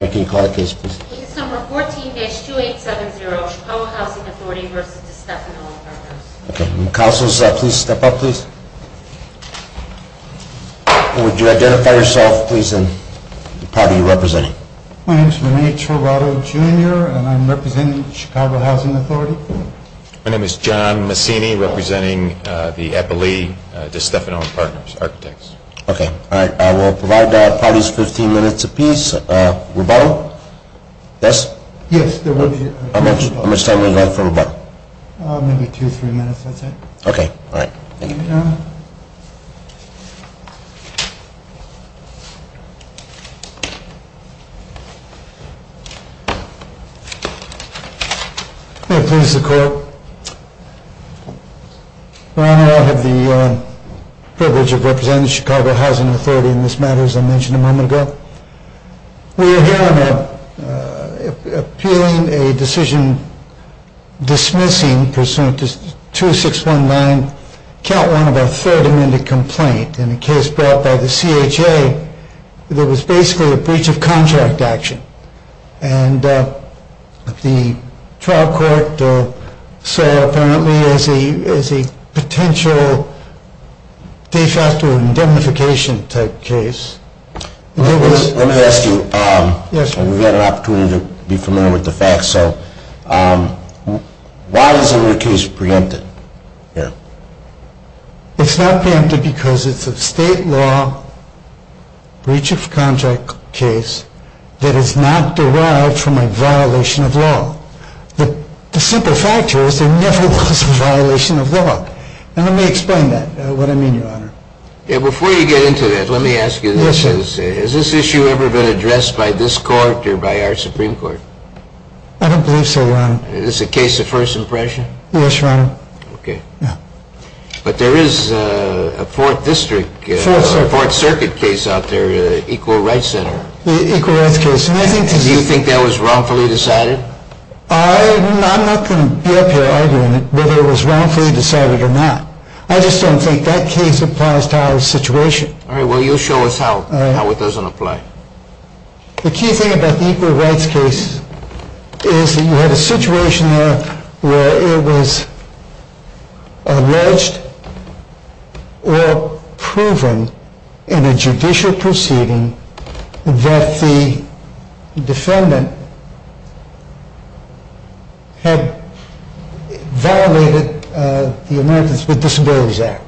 Case No. 14-2870, Chicago Housing Authority v. Destefano and Partners My name is Rene Trabado Jr. and I am representing the Chicago Housing Authority. My name is John Massini representing the Eppley-Destefano and Partners Architects. I will provide the parties 15 minutes a piece. Rebuttal? Yes, there will be a rebuttal. How much time do we have for a rebuttal? Maybe two or three minutes, that's it. Okay, all right. Thank you. May it please the Court, Your Honor, I have the privilege of representing the Chicago Housing Authority in this matter, as I mentioned a moment ago. We are here appealing a decision dismissing pursuant to 2619, Count 1 of our third amended complaint, in a case brought by the CHA that was basically a breach of contract action. And the trial court saw apparently as a potential de facto indemnification type case. Let me ask you, we've had an opportunity to be familiar with the facts, so why is your case preempted? It's not preempted because it's a state law breach of contract case that is not derived from a violation of law. The simple fact here is there never was a violation of law. And let me explain that, what I mean, Your Honor. Before you get into that, let me ask you this. Has this issue ever been addressed by this Court or by our Supreme Court? I don't believe so, Your Honor. Is this a case of first impression? Yes, Your Honor. Okay. Yeah. But there is a Fourth District, Fourth Circuit case out there, Equal Rights Center. Equal Rights case. Do you think that was wrongfully decided? I'm not going to be up here arguing whether it was wrongfully decided or not. I just don't think that case applies to our situation. All right, well you show us how it doesn't apply. The key thing about the Equal Rights case is that you had a situation there where it was alleged or proven in a judicial proceeding that the defendant had violated the Americans with Disabilities Act.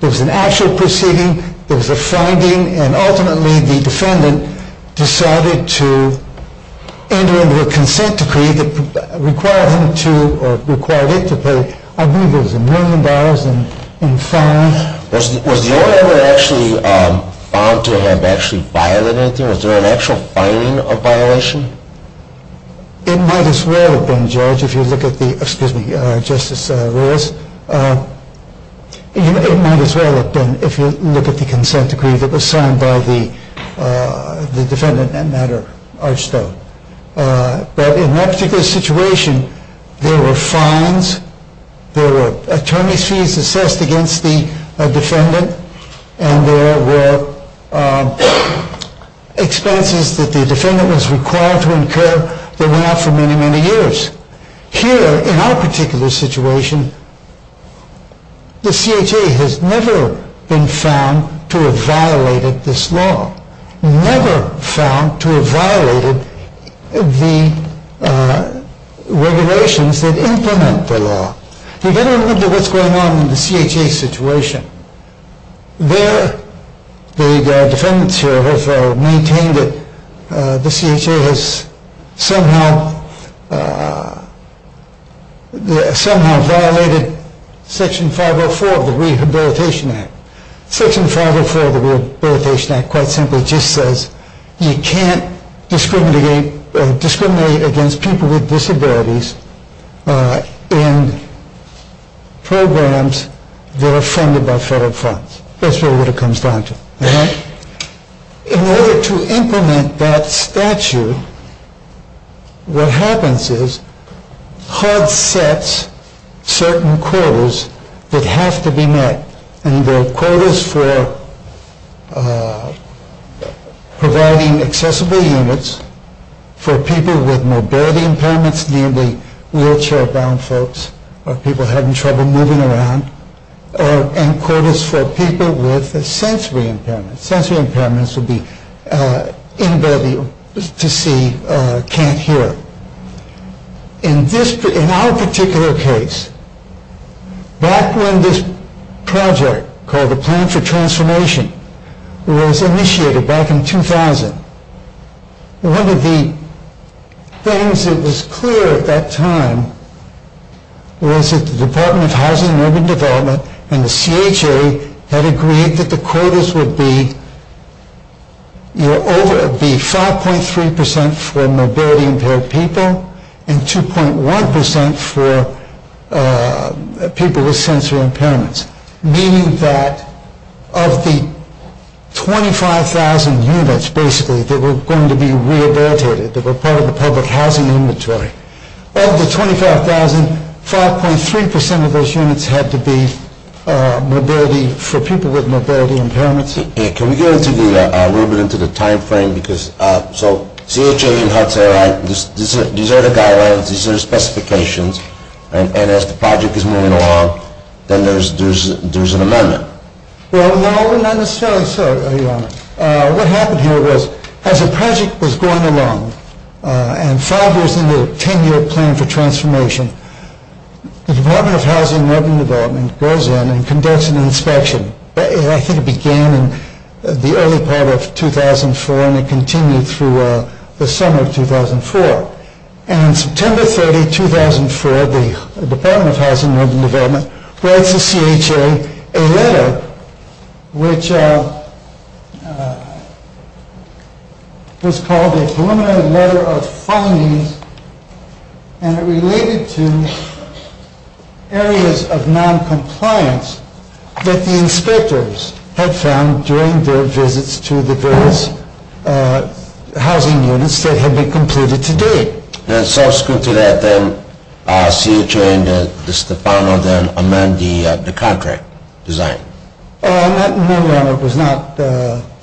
There was an actual proceeding. There was a finding. And ultimately the defendant decided to enter into a consent decree that required him to, or required it to pay, I believe it was a million dollars in fines. Was the owner ever actually found to have actually violated anything? Was there an actual finding of violation? It might as well have been, Judge, if you look at the, excuse me, Justice Lewis. It might as well have been, if you look at the consent decree that was signed by the defendant, Matter Archstone. But in that particular situation, there were fines, there were attorney's fees assessed against the defendant, and there were expenses that the defendant was required to incur that went out for many, many years. Here, in our particular situation, the CHA has never been found to have violated this law. Never found to have violated the regulations that implement the law. You get a little bit of what's going on in the CHA situation. There, the defendants here have maintained that the CHA has somehow violated Section 504 of the Rehabilitation Act. Section 504 of the Rehabilitation Act quite simply just says you can't discriminate against people with disabilities in programs that are funded by federal funds. That's really what it comes down to. In order to implement that statute, what happens is HUD sets certain quotas that have to be met, and they're quotas for providing accessible units for people with mobility impairments, namely wheelchair-bound folks or people having trouble moving around, and quotas for people with sensory impairments. Sensory impairments would be inability to see, can't hear. In our particular case, back when this project called the Plan for Transformation was initiated back in 2000, one of the things that was clear at that time was that the Department of Housing and Urban Development and the CHA had agreed that the quotas would be 5.3% for mobility-impaired people and 2.1% for people with sensory impairments, meaning that of the 25,000 units, basically, that were going to be rehabilitated, that were part of the public housing inventory, of the 25,000, 5.3% of those units had to be for people with mobility impairments. Can we go a little bit into the timeframe? So CHA and HUD say, right, these are the guidelines, these are the specifications, and as the project is moving along, then there's an amendment. Well, no, not necessarily so, Your Honor. What happened here was, as the project was going along, and five years into the 10-year Plan for Transformation, the Department of Housing and Urban Development goes in and conducts an inspection. I think it began in the early part of 2004, and it continued through the summer of 2004. And on September 30, 2004, the Department of Housing and Urban Development writes to CHA a letter, which was called a preliminary letter of findings, and it related to areas of noncompliance that the inspectors had found during their visits to the various housing units that had been completed to date. And subsequent to that, then, CHA and Stefano then amend the contract design. No, Your Honor, it was not.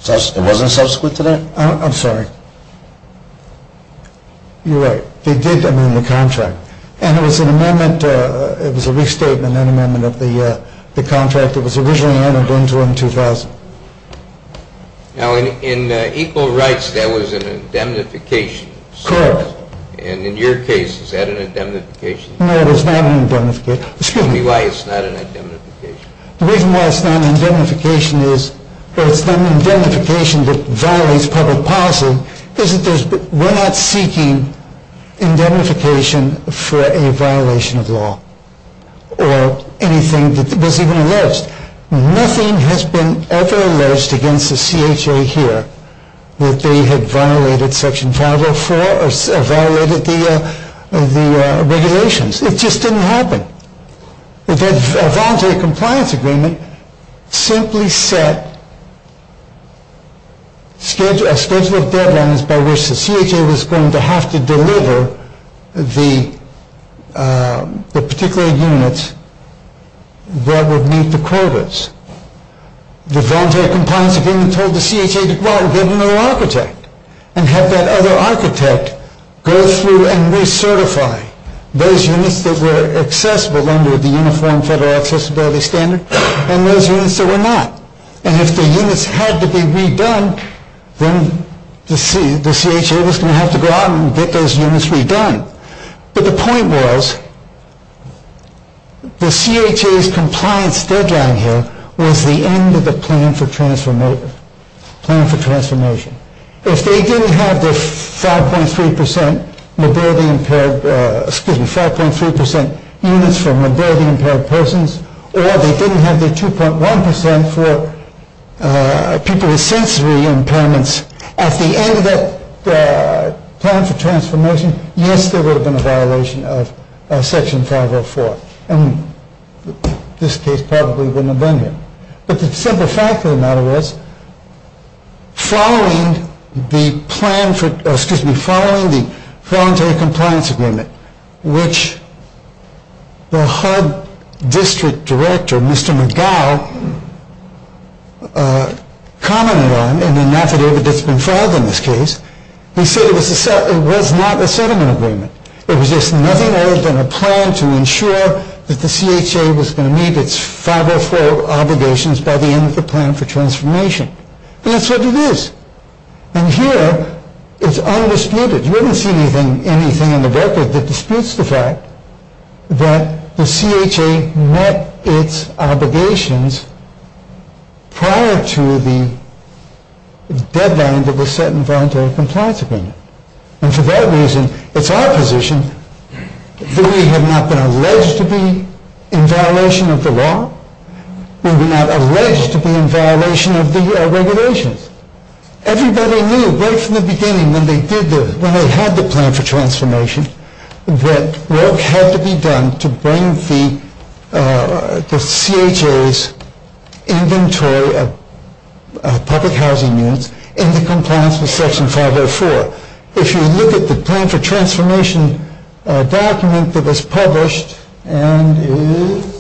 It wasn't subsequent to that? I'm sorry. You're right. They did amend the contract, and it was an amendment, it was a restatement, an amendment of the contract that was originally amended in June 2000. Now, in Equal Rights, there was an indemnification. Correct. And in your case, is that an indemnification? No, it's not an indemnification. Excuse me. Tell me why it's not an indemnification. The reason why it's not an indemnification is that it's not an indemnification that violates public policy. We're not seeking indemnification for a violation of law or anything that was even alleged. Nothing has been ever alleged against the CHA here that they had violated Section 504 or violated the regulations. It just didn't happen. That voluntary compliance agreement simply set a schedule of deadlines by which the CHA was going to have to deliver the particular units that would meet the quotas. The voluntary compliance agreement told the CHA to go out and get another architect and have that other architect go through and recertify those units that were accessible under the Uniform Federal Accessibility Standard and those units that were not. And if the units had to be redone, then the CHA was going to have to go out and get those units redone. But the point was, the CHA's compliance deadline here was the end of the plan for transformation. If they didn't have the 5.3% mobility impaired, excuse me, 5.3% units for mobility impaired persons or they didn't have the 2.1% for people with sensory impairments, at the end of that plan for transformation, yes, there would have been a violation of Section 504. And this case probably wouldn't have been here. But the simple fact of the matter was, following the voluntary compliance agreement, which the HUD District Director, Mr. McGough, commented on, and then after it had been filed in this case, he said it was not a settlement agreement. It was just nothing other than a plan to ensure that the CHA was going to meet its 504 obligations by the end of the plan for transformation. And that's what it is. And here, it's undisputed. You haven't seen anything in the record that disputes the fact that the CHA met its obligations prior to the deadline that was set in the voluntary compliance agreement. And for that reason, it's our position that we have not been alleged to be in violation of the law. We were not alleged to be in violation of the regulations. Everybody knew right from the beginning when they had the plan for transformation that work had to be done to bring the CHA's inventory of public housing units into compliance with Section 504. If you look at the plan for transformation document that was published and is...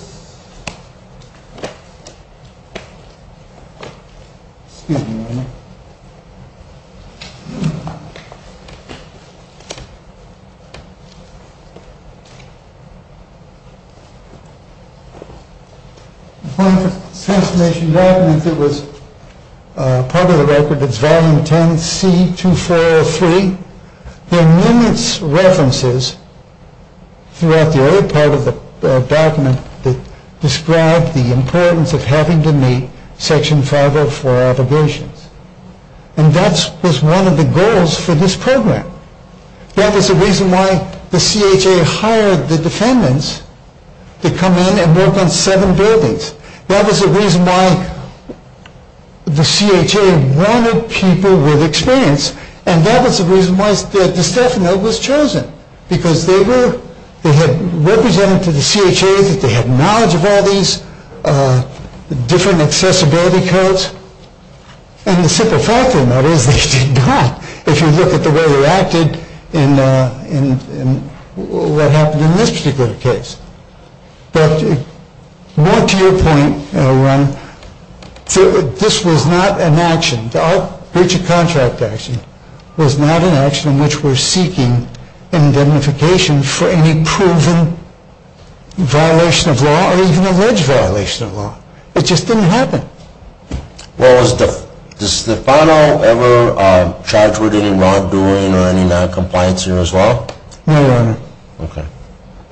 Excuse me a minute. The plan for transformation document that was part of the record, it's Volume 10, C-2403. There are numerous references throughout the other part of the document that describe the importance of having to meet Section 504 obligations. And that was one of the goals for this program. That was the reason why the CHA hired the defendants to come in and work on seven buildings. That was the reason why the CHA wanted people with experience. And that was the reason why the staff note was chosen because they had represented to the CHA that they had knowledge of all these different accessibility codes. And the simple fact of the matter is they did not. If you look at the way they acted in what happened in this particular case. But more to your point, Ron, this was not an action. The breach of contract action was not an action in which we're seeking indemnification for any proven violation of law or even alleged violation of law. It just didn't happen. Well, does Stefano ever charge with any wrongdoing or any noncompliance here as well? No, Your Honor. Okay.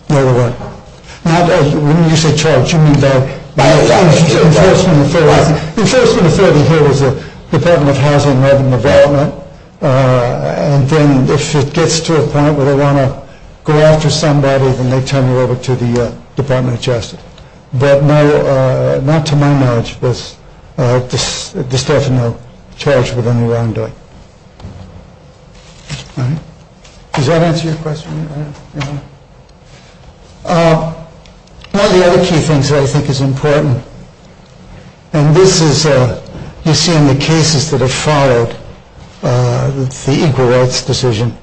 No, Your Honor. When you say charge, you mean that... The enforcement authority here is the Department of Housing and Urban Development. And then if it gets to a point where they want to go after somebody, then they turn you over to the Department of Justice. But no, not to my knowledge, does Stefano charge with any wrongdoing. Does that answer your question? One of the other key things that I think is important, and this is you see in the cases that have followed the equal rights decision,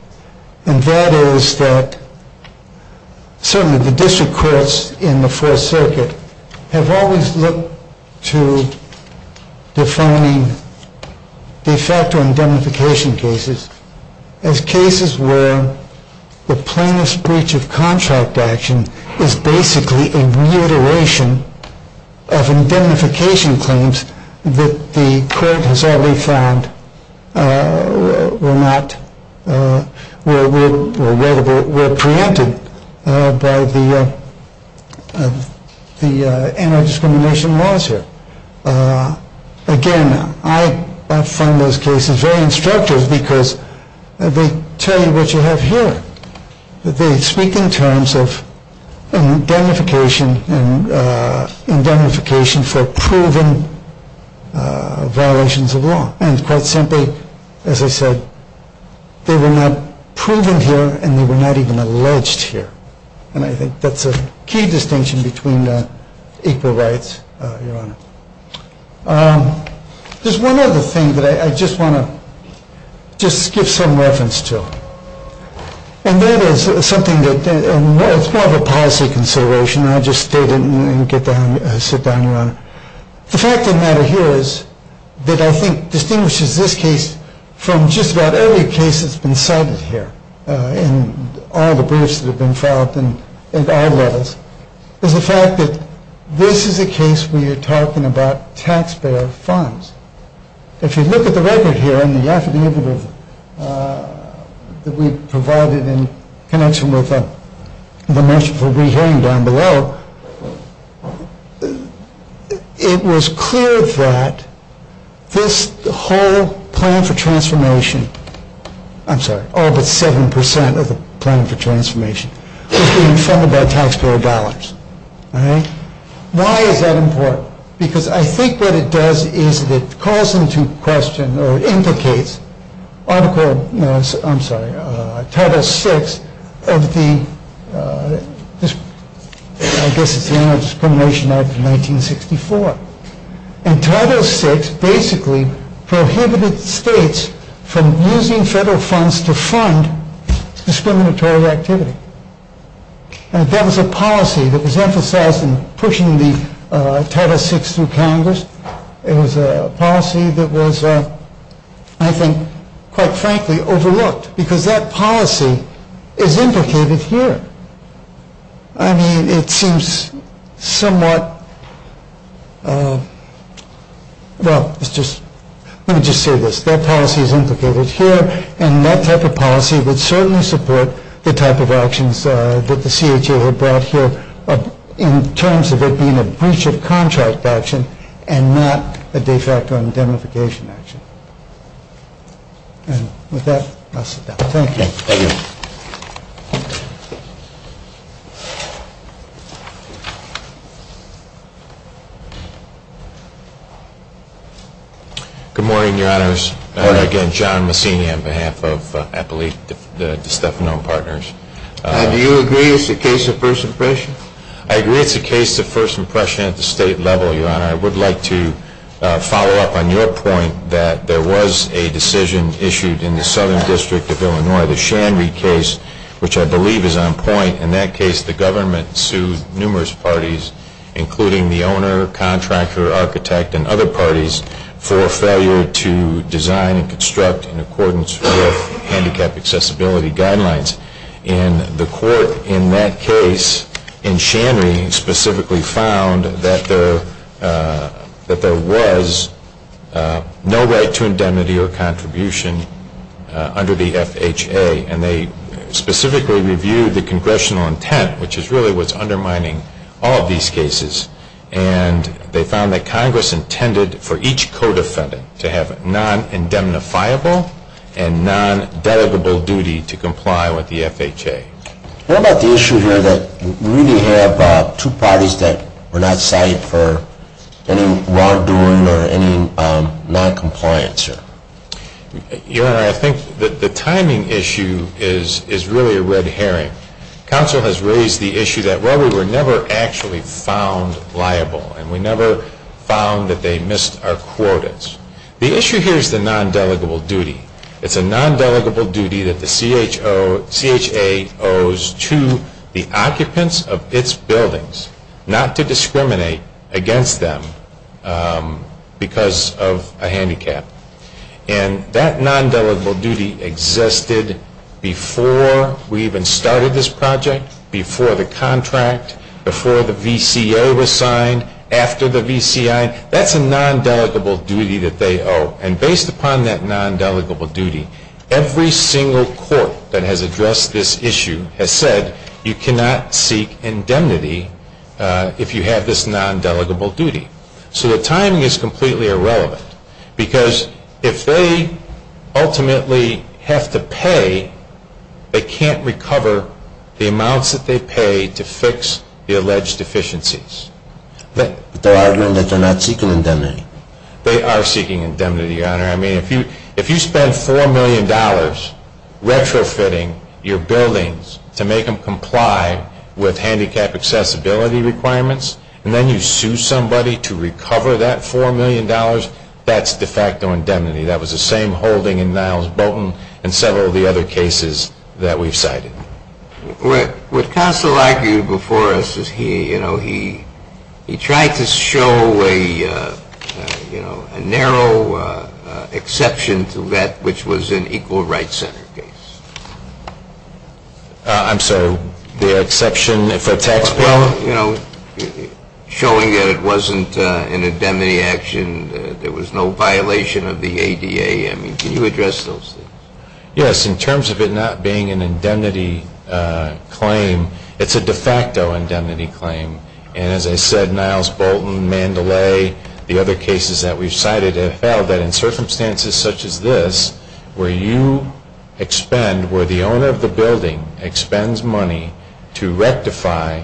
and that is that certainly the district courts in the Fourth Circuit have always looked to defining de facto indemnification cases as cases where the plaintiff's breach of contract action is basically a reiteration of indemnification claims that the court has already found were preempted by the anti-discrimination laws here. Again, I find those cases very instructive because they tell you what you have here. They speak in terms of indemnification for proven violations of law. And quite simply, as I said, they were not proven here and they were not even alleged here. And I think that's a key distinction between equal rights, Your Honor. There's one other thing that I just want to just give some reference to, and that is something that's more of a policy consideration. I'll just state it and sit down, Your Honor. The fact of the matter here is that I think distinguishes this case from just about every case that's been cited here in all the briefs that have been filed at all levels is the fact that this is a case where you're talking about taxpayer funds. If you look at the record here in the affidavit that we provided in connection with the motion for rehearing down below, it was clear that this whole plan for transformation, I'm sorry, all but 7% of the plan for transformation, was being funded by taxpayer dollars. Why is that important? Because I think what it does is it calls into question or implicates Article 6 of the, I guess it's the Anti-Discrimination Act of 1964. And Title 6 basically prohibited states from using federal funds to fund discriminatory activity. And that was a policy that was emphasized in pushing the Title 6 through Congress. It was a policy that was, I think, quite frankly, overlooked because that policy is implicated here. I mean, it seems somewhat, well, let me just say this. That policy is implicated here, and that type of policy would certainly support the type of actions that the CHA had brought here in terms of it being a breach of contract action and not a de facto indemnification action. And with that, I'll sit down. Thank you. Thank you. Good morning, Your Honors. Good morning. Again, John Messina on behalf of Appalachia De Stefano and Partners. Do you agree it's a case of first impression? I agree it's a case of first impression at the state level, Your Honor. And I would like to follow up on your point that there was a decision issued in the Southern District of Illinois, the Shanry case, which I believe is on point. In that case, the government sued numerous parties, including the owner, contractor, architect, and other parties for failure to design and construct in accordance with handicap accessibility guidelines. And the court in that case, in Shanry, specifically found that there was no right to indemnity or contribution under the FHA. And they specifically reviewed the congressional intent, which is really what's undermining all of these cases. And they found that Congress intended for each codefendant to have a non-indemnifiable and non-dedicable duty to comply with the FHA. What about the issue here that we really have two parties that were not cited for any wrongdoing or any noncompliance here? Your Honor, I think the timing issue is really a red herring. Counsel has raised the issue that, well, we were never actually found liable and we never found that they missed our quotas. The issue here is the non-dedicable duty. It's a non-dedicable duty that the CHA owes to the occupants of its buildings not to discriminate against them because of a handicap. And that non-dedicable duty existed before we even started this project, before the contract, before the VCA was signed, after the VCI. That's a non-dedicable duty that they owe. And based upon that non-dedicable duty, every single court that has addressed this issue has said you cannot seek indemnity if you have this non-dedicable duty. So the timing is completely irrelevant because if they ultimately have to pay, they can't recover the amounts that they pay to fix the alleged deficiencies. But they're arguing that they're not seeking indemnity. They are seeking indemnity, Your Honor. I mean, if you spend $4 million retrofitting your buildings to make them comply with handicap accessibility requirements and then you sue somebody to recover that $4 million, that's de facto indemnity. That was the same holding in Niles Bolton and several of the other cases that we've cited. What Counsel argued before us is he tried to show a narrow exception to that which was an equal rights center case. I'm sorry, the exception for taxpayers? Well, you know, showing that it wasn't an indemnity action, there was no violation of the ADA. I mean, can you address those things? Yes, in terms of it not being an indemnity claim, it's a de facto indemnity claim. And as I said, Niles Bolton, Mandalay, the other cases that we've cited, have held that in circumstances such as this where you expend, where the owner of the building expends money to rectify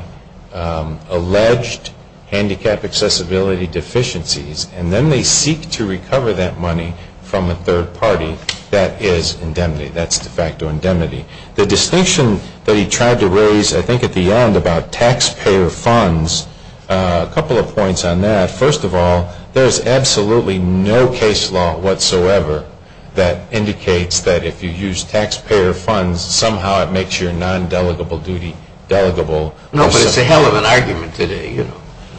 alleged handicap accessibility deficiencies and then they seek to recover that money from a third party, that is indemnity. That's de facto indemnity. The distinction that he tried to raise, I think, at the end about taxpayer funds, a couple of points on that. First of all, there is absolutely no case law whatsoever that indicates that if you use taxpayer funds, somehow it makes your non-delegable duty delegable. No, but it's a hell of an argument today.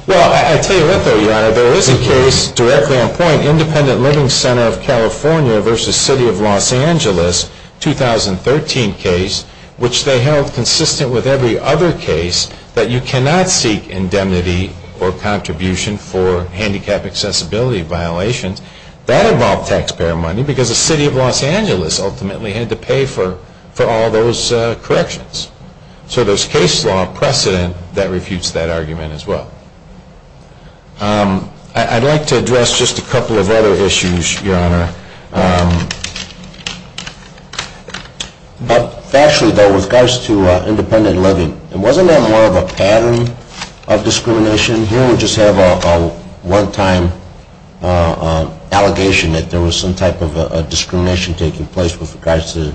Well, I'll tell you what, though, Your Honor. There is a case directly on point, Independent Living Center of California versus City of Los Angeles, 2013 case, which they held consistent with every other case that you cannot seek indemnity or contribution for handicap accessibility violations. That involved taxpayer money because the City of Los Angeles ultimately had to pay for all those corrections. So there's case law precedent that refutes that argument as well. I'd like to address just a couple of other issues, Your Honor. Factually, though, with regards to independent living, wasn't that more of a pattern of discrimination? Here we just have a one-time allegation that there was some type of discrimination taking place with regards to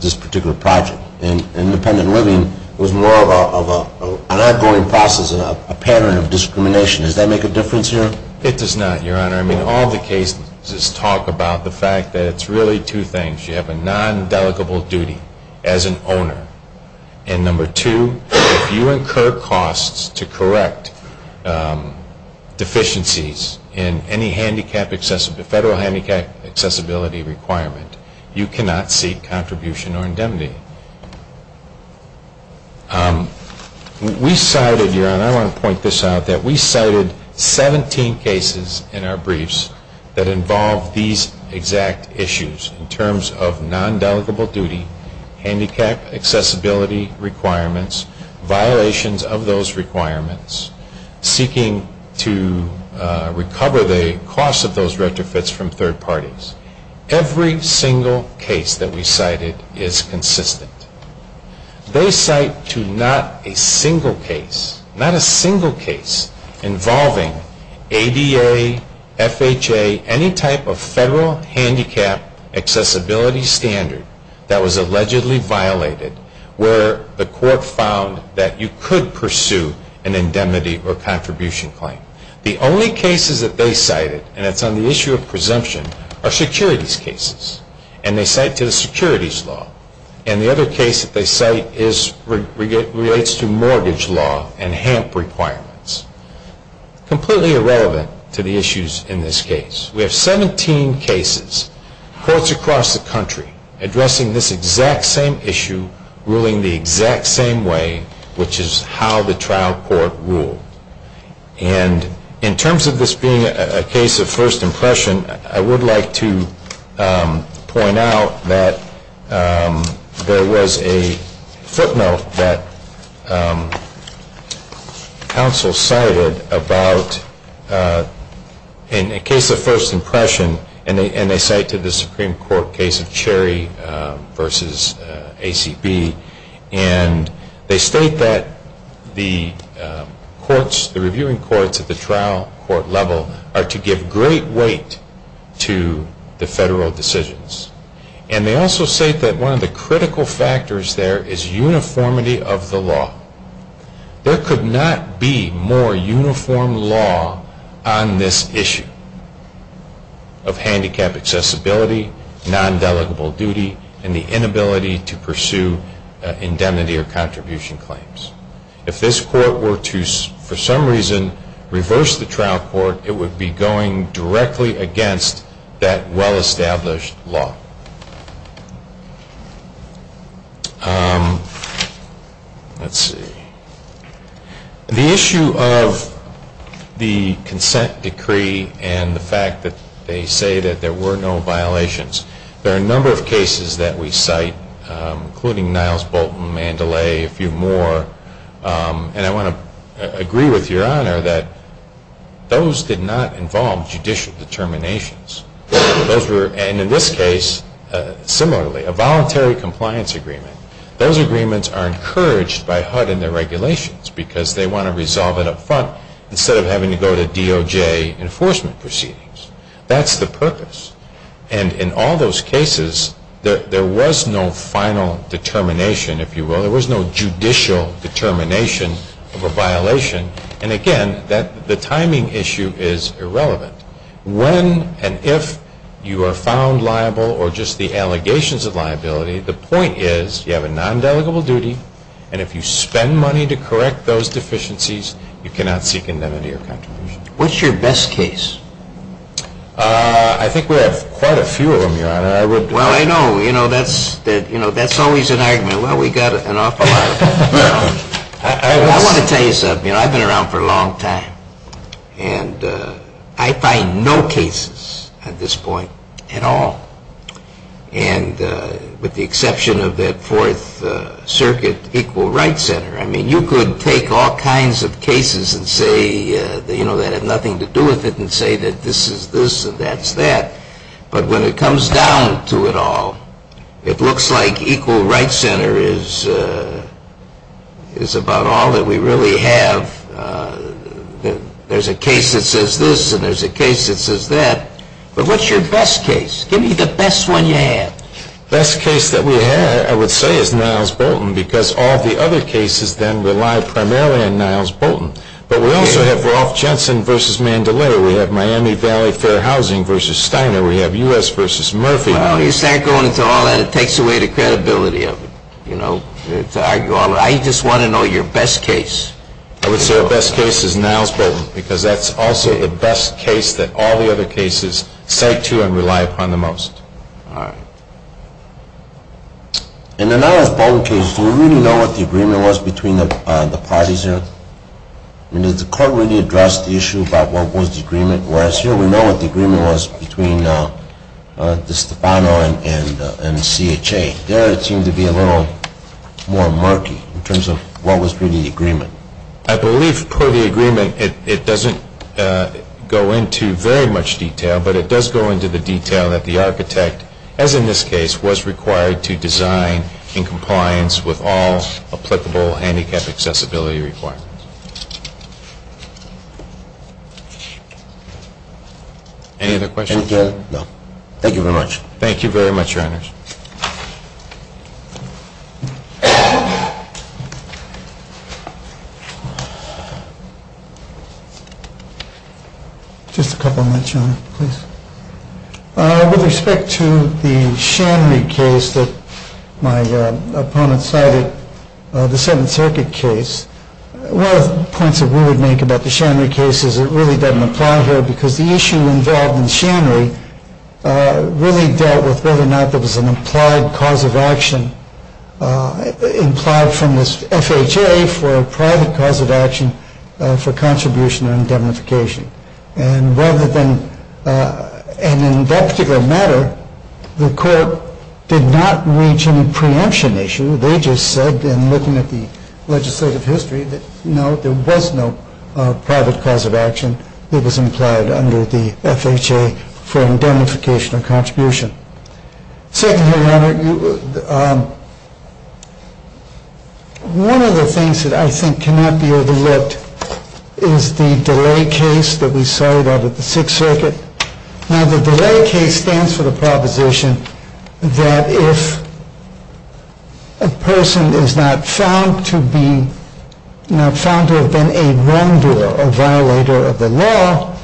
this particular project. And independent living was more of an ongoing process, a pattern of discrimination. Does that make a difference here? It does not, Your Honor. I mean, all the cases talk about the fact that it's really two things. You have a non-delegable duty as an owner. And number two, if you incur costs to correct deficiencies in any federal handicap accessibility requirement, you cannot seek contribution or indemnity. We cited, Your Honor, I want to point this out, that we cited 17 cases in our briefs that involved these exact issues in terms of non-delegable duty, handicap accessibility requirements, violations of those requirements, seeking to recover the cost of those retrofits from third parties. Every single case that we cited is consistent. They cite to not a single case, not a single case, involving ADA, FHA, any type of federal handicap accessibility standard that was allegedly violated where the court found that you could pursue an indemnity or contribution claim. The only cases that they cited, and it's on the issue of presumption, are securities cases. And they cite to the securities law. And the other case that they cite relates to mortgage law and HAMP requirements. Completely irrelevant to the issues in this case. We have 17 cases, courts across the country, addressing this exact same issue, ruling the exact same way, which is how the trial court ruled. And in terms of this being a case of first impression, I would like to point out that there was a footnote that counsel cited about in a case of first impression, and they cite to the Supreme Court case of Cherry v. ACB. And they state that the courts, the reviewing courts at the trial court level, are to give great weight to the federal decisions. And they also state that one of the critical factors there is uniformity of the law. There could not be more uniform law on this issue. And they also state that there is a violation of handicap accessibility, non-delegable duty, and the inability to pursue indemnity or contribution claims. If this court were to, for some reason, reverse the trial court, it would be going directly against that well-established law. Let's see. The issue of the consent decree and the fact that they say that there were no violations, there are a number of cases that we cite, including Niles Bolton, Mandalay, a few more. And I want to agree with Your Honor that those did not involve judicial determinations. And in this case, similarly, a voluntary compliance agreement, those agreements are encouraged by HUD in their regulations because they want to resolve it up front instead of having to go to DOJ enforcement proceedings. That's the purpose. And in all those cases, there was no final determination, if you will. There was no judicial determination of a violation. And, again, the timing issue is irrelevant. When and if you are found liable or just the allegations of liability, the point is you have a non-delegable duty, and if you spend money to correct those deficiencies, you cannot seek indemnity or contribution. What's your best case? I think we have quite a few of them, Your Honor. Well, I know. You know, that's always an argument. Well, we've got an awful lot. I want to tell you something. I've been around for a long time. And I find no cases at this point at all. And with the exception of that Fourth Circuit Equal Rights Center, I mean, you could take all kinds of cases and say, you know, that have nothing to do with it and say that this is this and that's that. But when it comes down to it all, it looks like Equal Rights Center is about all that we really have. There's a case that says this and there's a case that says that. But what's your best case? Give me the best one you have. The best case that we have, I would say, is Niles Bolton because all the other cases then rely primarily on Niles Bolton. But we also have Rolf Jensen v. Mandalay. We have Miami Valley Fair Housing v. Steiner. We have U.S. v. Murphy. Well, you start going into all that, it takes away the credibility of it, you know, to argue all that. I just want to know your best case. I would say the best case is Niles Bolton because that's also the best case that all the other cases cite to and rely upon the most. All right. In the Niles Bolton case, do you really know what the agreement was between the parties there? I mean, did the court really address the issue about what was the agreement? Whereas here we know what the agreement was between DeStefano and CHA. There it seemed to be a little more murky in terms of what was really the agreement. I believe, per the agreement, it doesn't go into very much detail, but it does go into the detail that the architect, as in this case, was required to design in compliance with all applicable handicap accessibility requirements. Any other questions? No. Thank you very much. Thank you very much, Your Honors. Just a couple of minutes, Your Honor, please. With respect to the Shanry case that my opponent cited, the Seventh Circuit case, one of the points that we would make about the Shanry case is it really doesn't apply here because the issue involved in Shanry really dealt with whether or not there was an implied cause of action implied from this FHA for a private cause of action for contribution or indemnification. And in that particular matter, the court did not reach any preemption issue. They just said, in looking at the legislative history, that no, there was no private cause of action that was implied under the FHA for indemnification or contribution. Second, Your Honor, one of the things that I think cannot be overlooked is the delay case that we cited out of the Sixth Circuit. Now, the delay case stands for the proposition that if a person is not found to have been a wrongdoer, a violator of the law,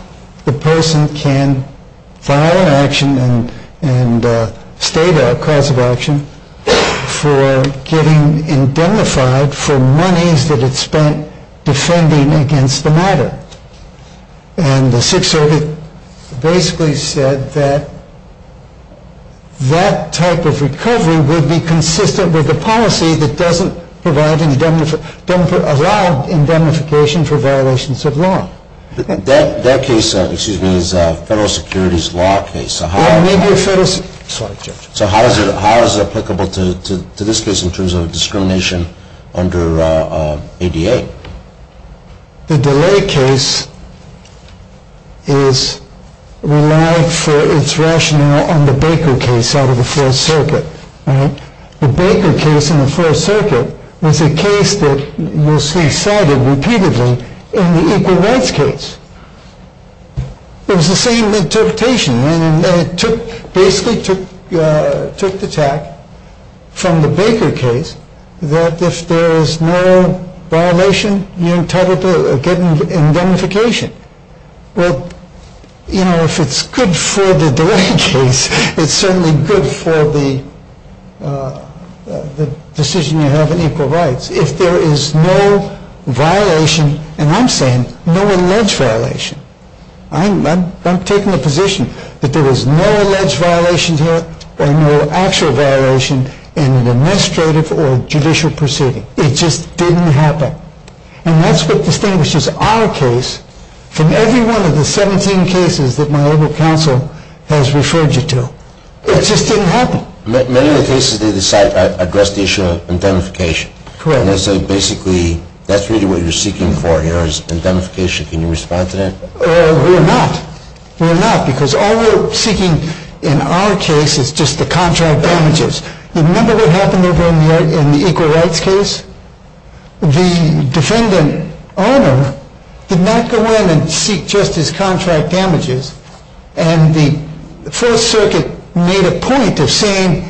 the person can file an action and state a cause of action for getting indemnified for monies that it spent defending against the matter. And the Sixth Circuit basically said that that type of recovery would be consistent with the policy that doesn't allow indemnification for violations of law. That case, excuse me, is a federal securities law case. So how is it applicable to this case in terms of discrimination under ADA? The delay case is relied for its rationale on the Baker case out of the Fourth Circuit. The Baker case in the Fourth Circuit was a case that was cited repeatedly in the Equal Rights case. It was the same interpretation, and it basically took the tack from the Baker case that if there is no violation, you're entitled to get indemnification. Well, you know, if it's good for the delay case, it's certainly good for the decision you have in Equal Rights. If there is no violation, and I'm saying no alleged violation. I'm taking the position that there was no alleged violation here, or no actual violation in an administrative or judicial proceeding. It just didn't happen. And that's what distinguishes our case from every one of the 17 cases that my local council has referred you to. It just didn't happen. Many of the cases they decide address the issue of indemnification. Correct. And they say basically that's really what you're seeking for here is indemnification. Can you respond to that? We're not. We're not, because all we're seeking in our case is just the contract damages. Remember what happened in the Equal Rights case? The defendant owner did not go in and seek just his contract damages, and the Fourth Circuit made a point of saying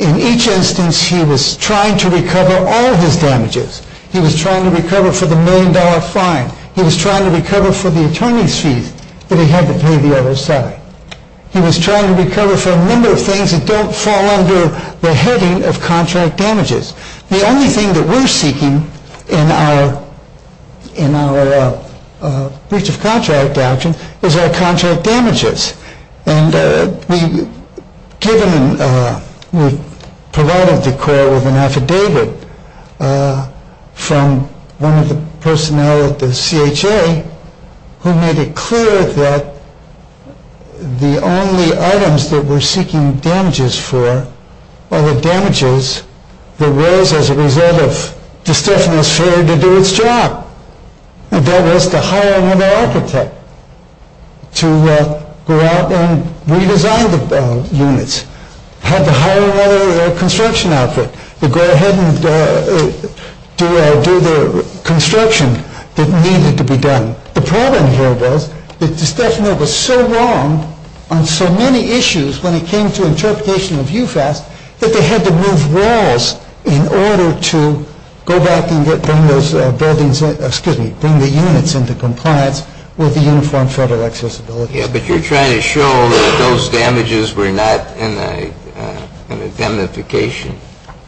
in each instance he was trying to recover all of his damages. He was trying to recover for the million-dollar fine. He was trying to recover for the attorney's fees that he had to pay the other side. He was trying to recover for a number of things that don't fall under the heading of contract damages. The only thing that we're seeking in our breach of contract action is our contract damages. And we provided the court with an affidavit from one of the personnel at the CHA who made it clear that the only items that we're seeking damages for are the damages that arose as a result of The problem here was that the statute was so wrong on so many issues when it came to interpretation of UFAS that they had to move walls in order to go back and bring the units into compliance with the Uniform Federal Access Abilities Act. But you're trying to show that those damages were not indemnification.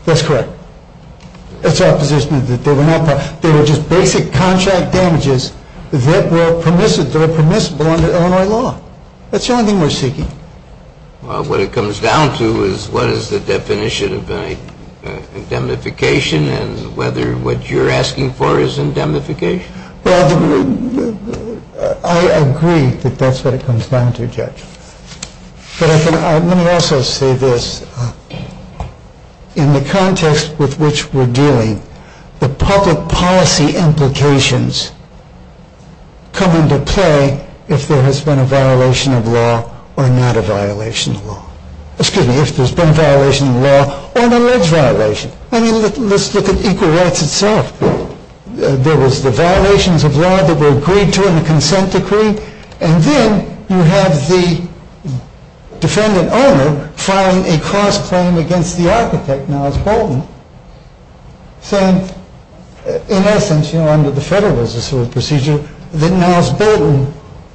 That's correct. It's our position that they were not. They were just basic contract damages that were permissible under Illinois law. That's the only thing we're seeking. Well, what it comes down to is what is the definition of indemnification and whether what you're asking for is indemnification. Well, I agree that that's what it comes down to, Judge. But let me also say this. In the context with which we're dealing, the public policy implications come into play if there has been a violation of law or not a violation of law. Excuse me, if there's been a violation of law or an alleged violation. I mean, let's look at equal rights itself. There was the violations of law that were agreed to in the consent decree. And then you have the defendant owner filing a cross-claim against the architect, Niles Bolton, saying, in essence, you know, under the Federalist Procedure, that Niles Bolton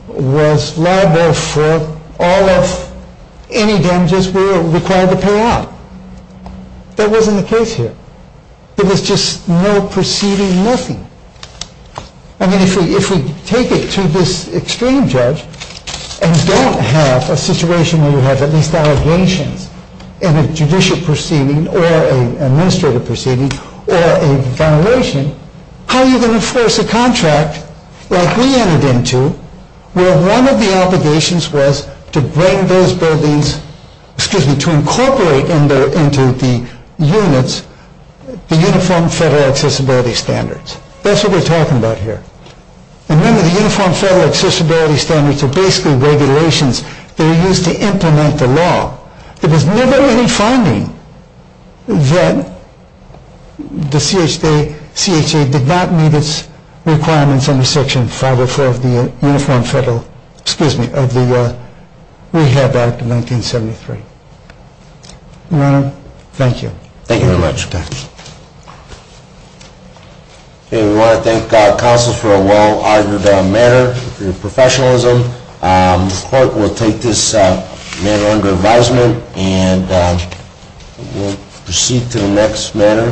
was liable for all of any damages we were required to pay out. That wasn't the case here. It was just no proceeding, nothing. I mean, if we take it to this extreme, Judge, and don't have a situation where you have at least allegations in a judicial proceeding or an administrative proceeding or a violation, how are you going to enforce a contract like we entered into where one of the obligations was to bring those buildings, excuse me, to incorporate into the units the Uniform Federal Accessibility Standards. That's what we're talking about here. And remember, the Uniform Federal Accessibility Standards are basically regulations that are used to implement the law. There was never any finding that the CHA did not meet its requirements under Section 504 of the Uniform Federal, excuse me, of the Rehab Act of 1973. Your Honor, thank you. Thank you very much. We want to thank counsels for a well-argued matter, professionalism. The court will take this matter under advisement, and we'll proceed to the next matter.